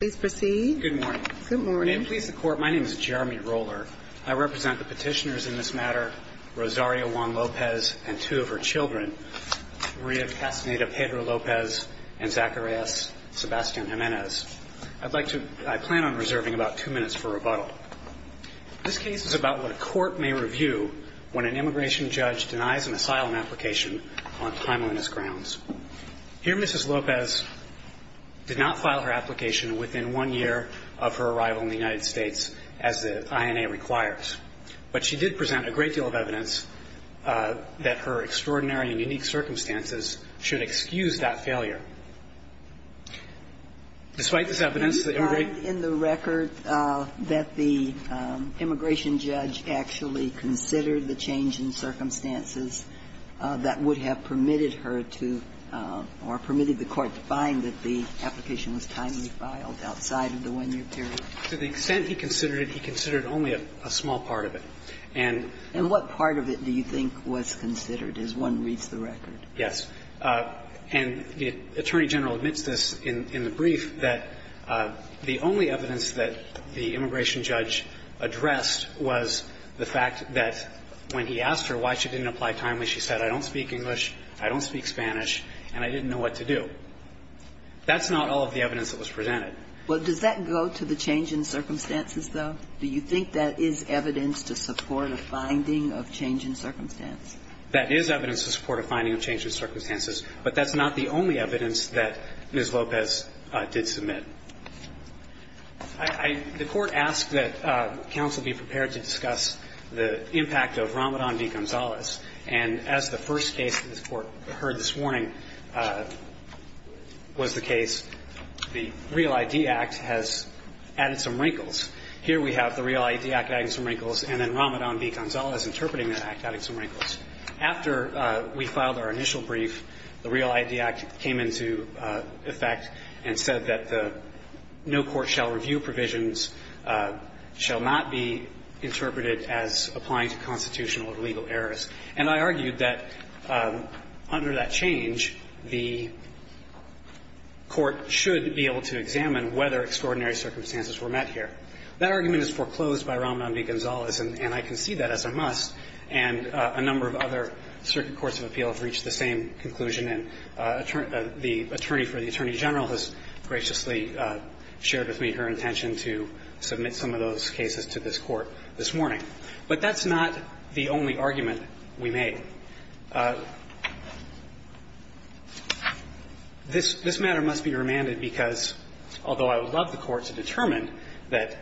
Good morning. May it please the Court, my name is Jeremy Roller. I represent the petitioners in this matter, Rosario Juan Lopez and two of her children, Rita Castaneda Pedro Lopez and Zacharias Sebastian Jimenez. I plan on reserving about two minutes for rebuttal. This case is about what a court may review when an immigration judge denies an asylum application on timeliness grounds. Here, Mrs. Lopez did not file her application within one year of her arrival in the United States, as the INA requires. But she did present a great deal of evidence that her extraordinary and unique circumstances should excuse that failure. Despite this evidence, the immigration judge... And what part of it do you think was considered, as one reads the record? Yes. And the Attorney General admits this in the brief, that the only evidence that the immigration judge addressed was the fact that when he asked her why she didn't apply timely, she said, I don't speak English, I don't speak Spanish, and I didn't know what to do. That's not all of the evidence that was presented. Well, does that go to the change in circumstances, though? Do you think that is evidence to support a finding of change in circumstance? That is evidence to support a finding of change in circumstances, but that's not the only evidence that Ms. Lopez did submit. The Court asked that counsel be prepared to discuss the impact of Ramadan v. Gonzalez. And as the first case that this Court heard this morning was the case, the REAL ID Act has added some wrinkles. Here we have the REAL ID Act adding some wrinkles, and then Ramadan v. Gonzalez interpreting the Act adding some wrinkles. After we filed our initial brief, the REAL ID Act came into effect and said that the no-court-shall-review provisions shall not be interpreted as applying to constitutional or legal errors. And I argued that under that change, the Court should be able to examine whether extraordinary circumstances were met here. That argument is foreclosed by Ramadan v. Gonzalez, and I concede that as a must, and a number of other circuit courts of appeal have reached the same conclusion. And the attorney for the Attorney General has graciously shared with me her intention to submit some of those cases to this Court this morning. But that's not the only argument we made. This matter must be remanded because, although I would love the Court to determine that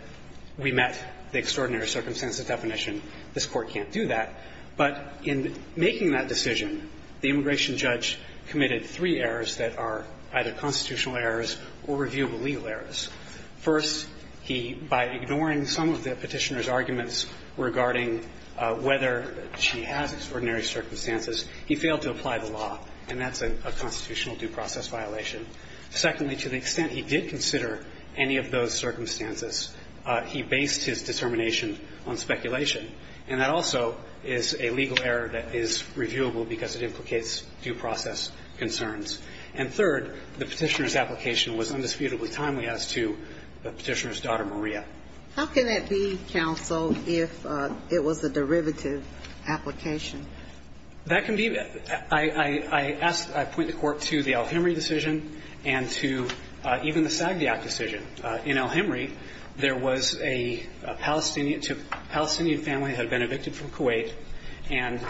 we met the extraordinary circumstances definition, this Court can't do that. But in making that decision, the immigration judge committed three errors that are either constitutional errors or reviewable legal errors. First, he, by ignoring some of the Petitioner's arguments regarding whether she has extraordinary circumstances, he failed to apply the law, and that's a constitutional due process violation. Secondly, to the extent he did consider any of those circumstances, he based his determination on speculation. And that also is a legal error that is reviewable because it implicates due process concerns. And third, the Petitioner's application was indisputably timely as to the Petitioner's daughter, Maria. How can that be, counsel, if it was a derivative application? That can be. I asked, I point the Court to the El-Hemry decision and to even the Sagdiak decision. In El-Hemry, there was a Palestinian family had been evicted from Kuwait, and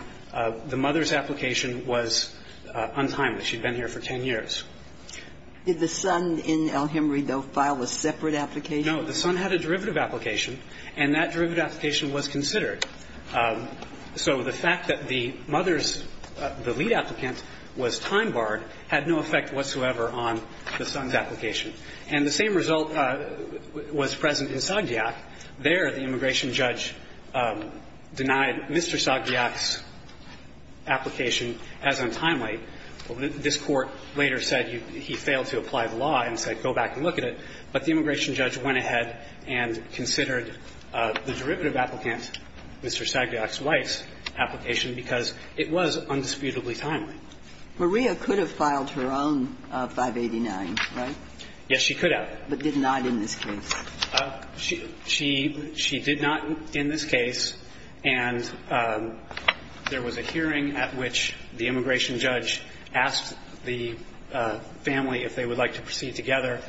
the mother's application was untimely. She had been here for 10 years. Did the son in El-Hemry, though, file a separate application? No. The son had a derivative application, and that derivative application was considered. So the fact that the mother's, the lead applicant, was time-barred had no effect whatsoever on the son's application. And the same result was present in Sagdiak. There, the immigration judge denied Mr. Sagdiak's application as untimely. This Court later said he failed to apply the law and said, go back and look at it. But the immigration judge went ahead and considered the derivative applicant, Mr. Sagdiak's wife's application, because it was undisputably timely. Maria could have filed her own 589, right? Yes, she could have. But did not in this case? She did not in this case. And there was a hearing at which the immigration judge asked the family if they would like to proceed together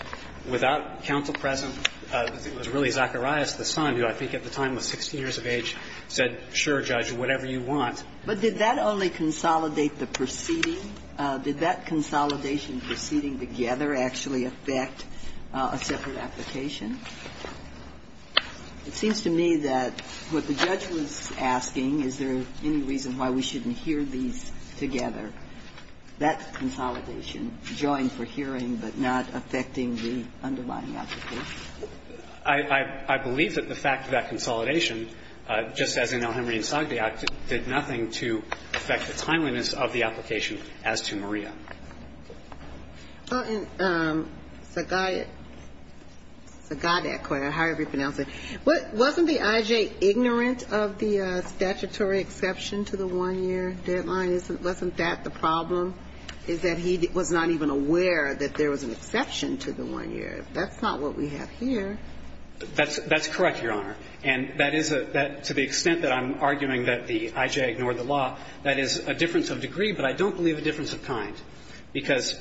without counsel present. It was really Zacharias, the son, who I think at the time was 16 years of age, said, sure, Judge, whatever you want. But did that only consolidate the proceeding? Did that consolidation of proceeding together actually affect a separate application? It seems to me that what the judge was asking, is there any reason why we shouldn't hear these together, that consolidation joined for hearing but not affecting the underlying application? I believe that the fact of that consolidation, just as in Elhemry v. Sagdiak, did nothing to affect the timeliness of the application as to Maria. And Sagdiak, however you pronounce it, wasn't the I.J. ignorant of the statutory exception to the 1-year deadline? Wasn't that the problem, is that he was not even aware that there was an exception to the 1-year? That's not what we have here. That's correct, Your Honor. And that is a – to the extent that I'm arguing that the I.J. ignored the law, that is a difference of degree, but I don't believe a difference of kind, because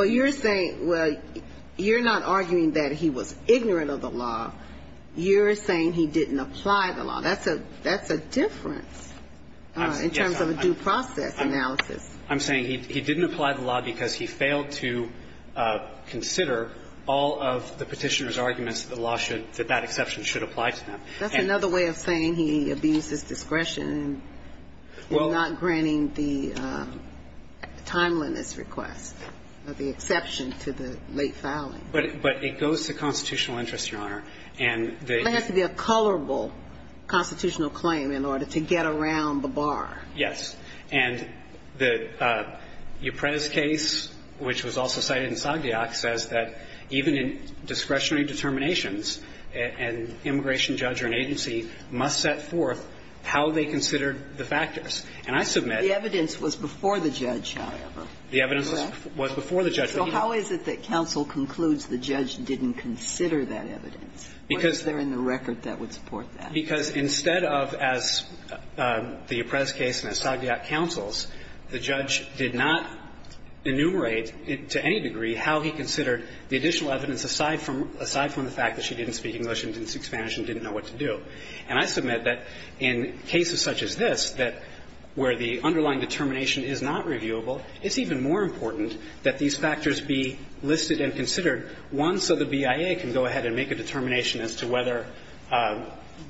you're saying – Well, you're not arguing that he was ignorant of the law. You're saying he didn't apply the law. That's a difference in terms of a due process analysis. I'm saying he didn't apply the law because he failed to consider all of the Petitioner's That's another way of saying he abused his discretion in not granting the timeliness request, the exception to the late filing. But it goes to constitutional interest, Your Honor. And the – Well, it has to be a colorable constitutional claim in order to get around the bar. Yes. And the Ypres case, which was also cited in Sagdiak, says that even in discretionary determinations, an immigration judge or an agency must set forth how they considered the factors. And I submit – The evidence was before the judge, however. Correct? The evidence was before the judge. So how is it that counsel concludes the judge didn't consider that evidence? Because – Or is there in the record that would support that? Because instead of, as the Ypres case and as Sagdiak counsels, the judge did not enumerate to any degree how he considered the additional evidence aside from the fact that she didn't speak English and didn't speak Spanish and didn't know what to do. And I submit that in cases such as this, that where the underlying determination is not reviewable, it's even more important that these factors be listed and considered, one, so the BIA can go ahead and make a determination as to whether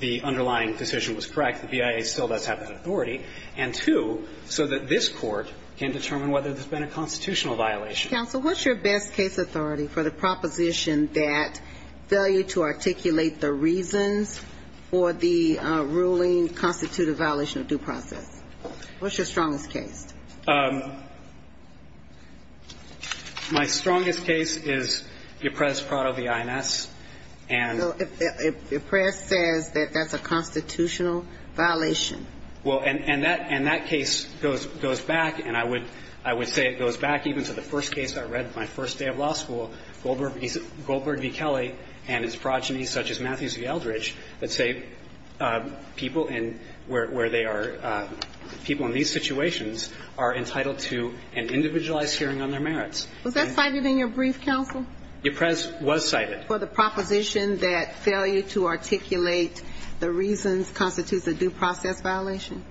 the underlying decision was correct. The BIA still does have that authority. And two, so that this Court can determine whether there's been a constitutional violation. Counsel, what's your best case authority for the proposition that failure to articulate the reasons for the ruling constitute a violation of due process? What's your strongest case? My strongest case is Ypres-Prado v. IMS. And – So if Ypres says that that's a constitutional violation. Well, and that case goes back, and I would say it goes back even to the first case I read my first day of law school, Goldberg v. Kelly and its progeny, such as Matthews v. Eldridge, that say people in – where they are – people in these situations are entitled to an individualized hearing on their merits. Was that cited in your brief, counsel? Ypres was cited. For the proposition that failure to articulate the reasons constitutes a due process violation?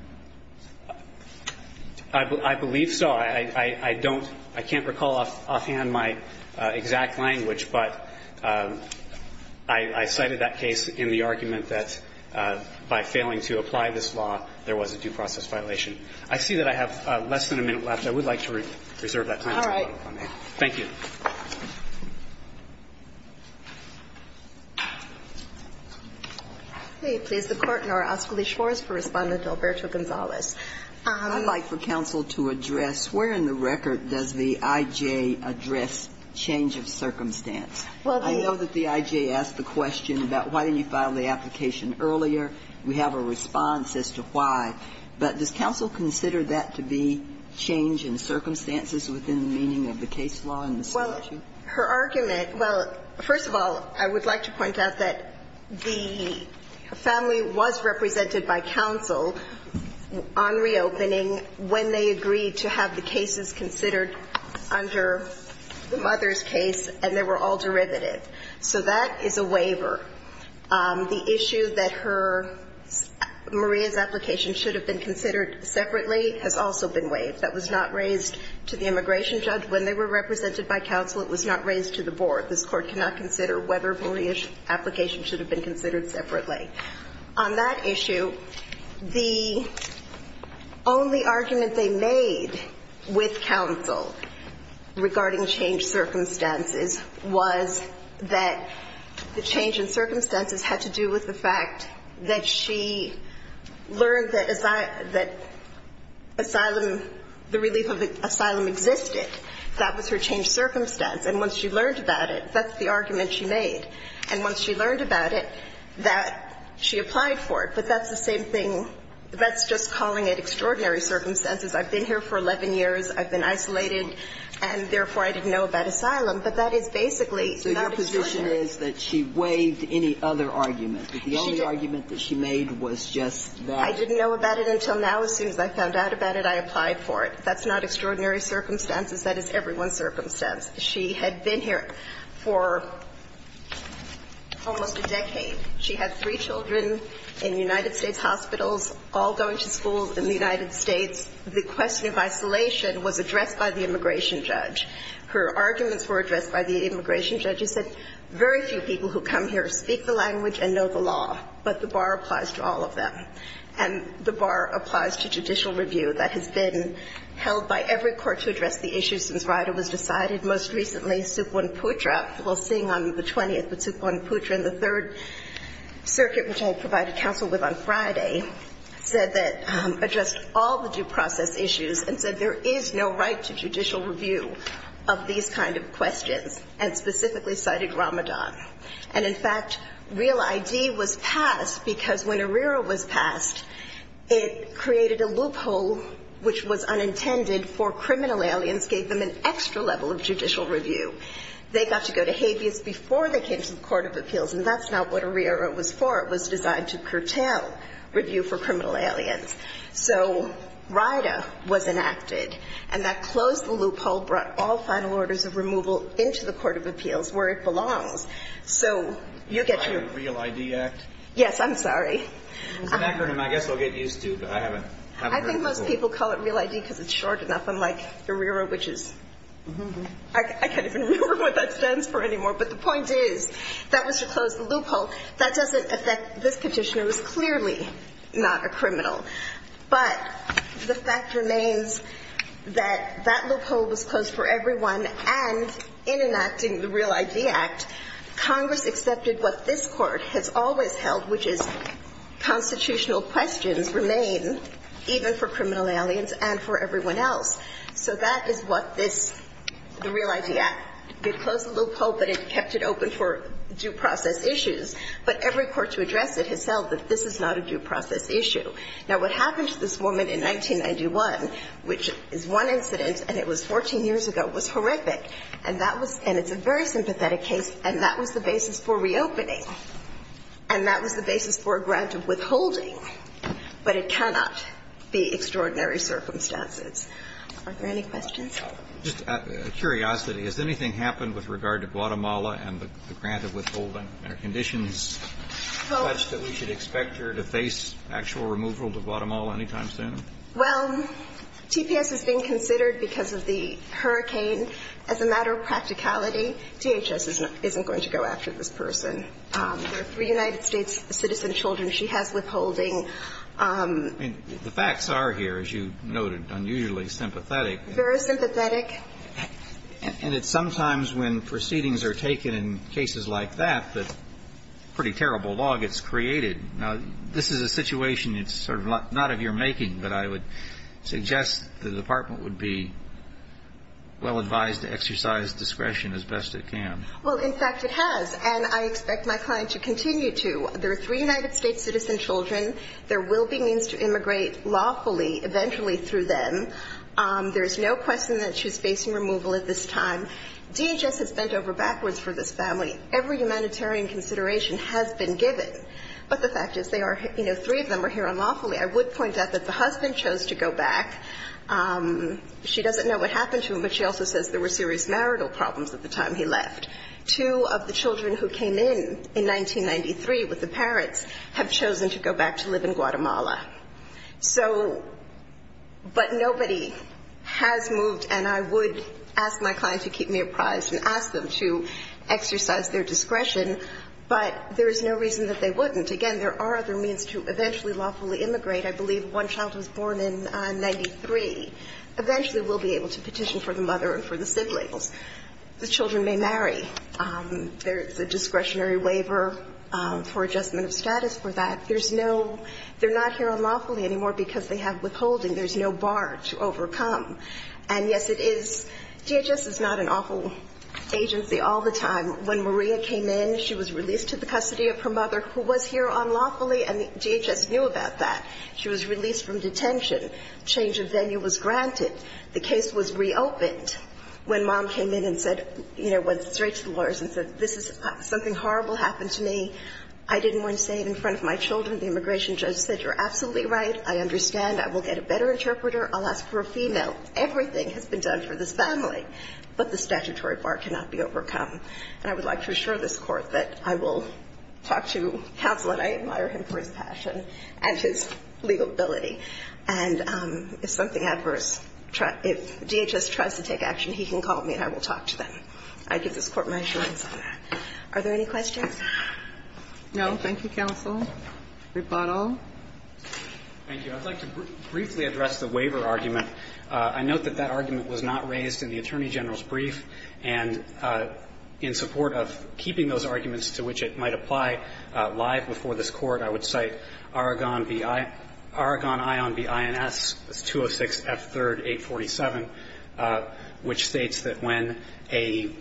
I believe so. I don't – I can't recall offhand my exact language, but I cited that case in the argument that by failing to apply this law, there was a due process violation. I see that I have less than a minute left. I would like to reserve that time. All right. Thank you. May it please the Court, and I'll ask Alicia Morris for a response to Alberto Gonzalez. I'd like for counsel to address where in the record does the I.J. address change of circumstance. Well, the – I know that the I.J. asked the question about why didn't you file the application earlier. We have a response as to why, but does counsel consider that to be change in circumstances within the meaning of the case law in this statute? Well, her argument – well, first of all, I would like to point out that the family was represented by counsel on reopening when they agreed to have the cases considered under the mother's case, and they were all derivative. So that is a waiver. The issue that her – Maria's application should have been considered separately has also been waived. That was not raised to the immigration judge when they were represented by counsel. It was not raised to the board. This Court cannot consider whether Maria's application should have been considered separately. On that issue, the only argument they made with counsel regarding change circumstances was that the change in circumstances had to do with the fact that she learned that asylum – the relief of asylum existed. That was her change circumstance. And once she learned about it, that's the argument she made. And once she learned about it, that she applied for it. But that's the same thing. That's just calling it extraordinary circumstances. I've been here for 11 years. I've been isolated, and therefore, I didn't know about asylum. But that is basically not extraordinary. So your position is that she waived any other argument, that the only argument that she made was just that? I didn't know about it until now. As soon as I found out about it, I applied for it. That's not extraordinary circumstances. That is everyone's circumstance. She had been here for almost a decade. She had three children in United States hospitals, all going to school in the United States. The question of isolation was addressed by the immigration judge. Her arguments were addressed by the immigration judge. He said, very few people who come here speak the language and know the law, but the bar applies to all of them. And the bar applies to judicial review. That has been held by every court to address the issues since RIDA was decided. Most recently, Supwun Putra, we'll sing on the 20th, but Supwun Putra and the Third Circuit, which I provided counsel with on Friday, said that they addressed all the due process issues and said there is no right to judicial review of these kind of questions, and specifically cited Ramadan. And in fact, Real ID was passed because when ARERA was passed, it created a loophole which was unintended for criminal aliens, gave them an extra level of judicial review. They got to go to habeas before they came to the court of appeals, and that's not what ARERA was for. It was designed to curtail review for criminal aliens. So RIDA was enacted, and that closed the loophole, brought all final orders of action. So you get your... Real ID Act? Yes, I'm sorry. It's an acronym. I guess they'll get used to it. I haven't heard it before. I think most people call it Real ID because it's short enough, unlike ARERA, which is... Mm-hmm. I can't even remember what that stands for anymore. But the point is, that was to close the loophole. That doesn't affect this petitioner, who is clearly not a criminal. But the fact remains that that loophole was closed for everyone, and in enacting the Real ID Act, Congress accepted what this Court has always held, which is constitutional questions remain even for criminal aliens and for everyone else. So that is what this, the Real ID Act, it closed the loophole, but it kept it open for due process issues. But every court to address it has held that this is not a due process issue. Now, what happened to this woman in 1991, which is one incident and it was 14 years ago, was horrific. And that was, and it's a very sympathetic case, and that was the basis for reopening. And that was the basis for a grant of withholding. But it cannot be extraordinary circumstances. Are there any questions? Just out of curiosity, has anything happened with regard to Guatemala and the grant of withholding? Are conditions such that we should expect her to face actual removal to Guatemala any time soon? Well, TPS has been considered because of the hurricane. As a matter of practicality, DHS isn't going to go after this person. They're three United States citizen children. She has withholding. I mean, the facts are here, as you noted, unusually sympathetic. Very sympathetic. And it's sometimes when proceedings are taken in cases like that that pretty terrible law gets created. Now, this is a situation that's sort of not of your making, but I would suggest the department would be well advised to exercise discretion as best it can. Well, in fact, it has. And I expect my client to continue to. They're three United States citizen children. There will be means to immigrate lawfully eventually through them. There's no question that she's facing removal at this time. DHS has bent over backwards for this family. Every humanitarian consideration has been given. But the fact is they are, you know, three of them are here unlawfully. I would point out that the husband chose to go back. She doesn't know what happened to him, but she also says there were serious marital problems at the time he left. Two of the children who came in in 1993 with the parents have chosen to go back to live in Guatemala. So, but nobody has moved, and I would ask my client to keep me apprised and ask them to exercise their discretion. But there is no reason that they wouldn't. Again, there are other means to eventually lawfully immigrate. I believe one child who was born in 93 eventually will be able to petition for the mother and for the siblings. The children may marry. There's a discretionary waiver for adjustment of status for that. There's no – they're not here unlawfully anymore because they have withholding. There's no bar to overcome. And, yes, it is – DHS is not an awful agency all the time. When Maria came in, she was released to the custody of her mother, who was here unlawfully, and DHS knew about that. She was released from detention. Change of venue was granted. The case was reopened when mom came in and said – you know, went straight to the lawyers and said, this is – something horrible happened to me. I didn't want to say it in front of my children. The immigration judge said, you're absolutely right. I understand. I will get a better interpreter. I'll ask for a female. Everything has been done for this family. But the statutory bar cannot be overcome. And I would like to assure this Court that I will talk to counsel, and I admire him for his passion and his legibility. And if something adverse – if DHS tries to take action, he can call me and I will talk to them. I give this Court my assurance on that. Are there any questions? No. Thank you, counsel. Rebuttal. Thank you. I'd like to briefly address the waiver argument. I note that that argument was not raised in the Attorney General's brief. And in support of keeping those arguments to which it might apply live before this Court, I would cite Aragon B.I. – Aragon Ion B.I.N.S. 206 F. 3rd 847, which states that when a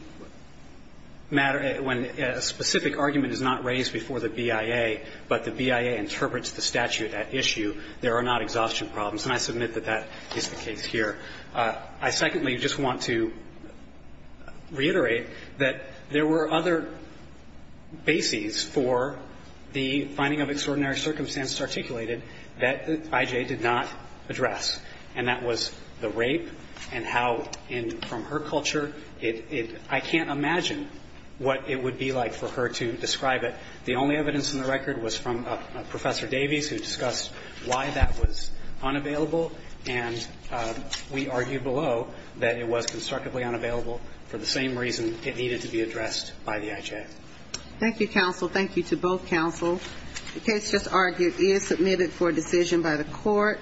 matter – when a specific argument is not raised before the BIA, but the BIA interprets the statute at issue, there are not exhaustion problems. And I submit that that is the case here. I secondly just want to reiterate that there were other bases for the finding of extraordinary circumstances articulated that I.J. did not address, and that was the rape and how in – from her culture, it – I can't imagine what it would be like for her to describe it. The only evidence in the record was from Professor Davies, who discussed why that was unavailable, and we argue below that it was constructively unavailable for the same reason it needed to be addressed by the I.J. Thank you, counsel. Thank you to both counsel. The case just argued is submitted for decision by the Court.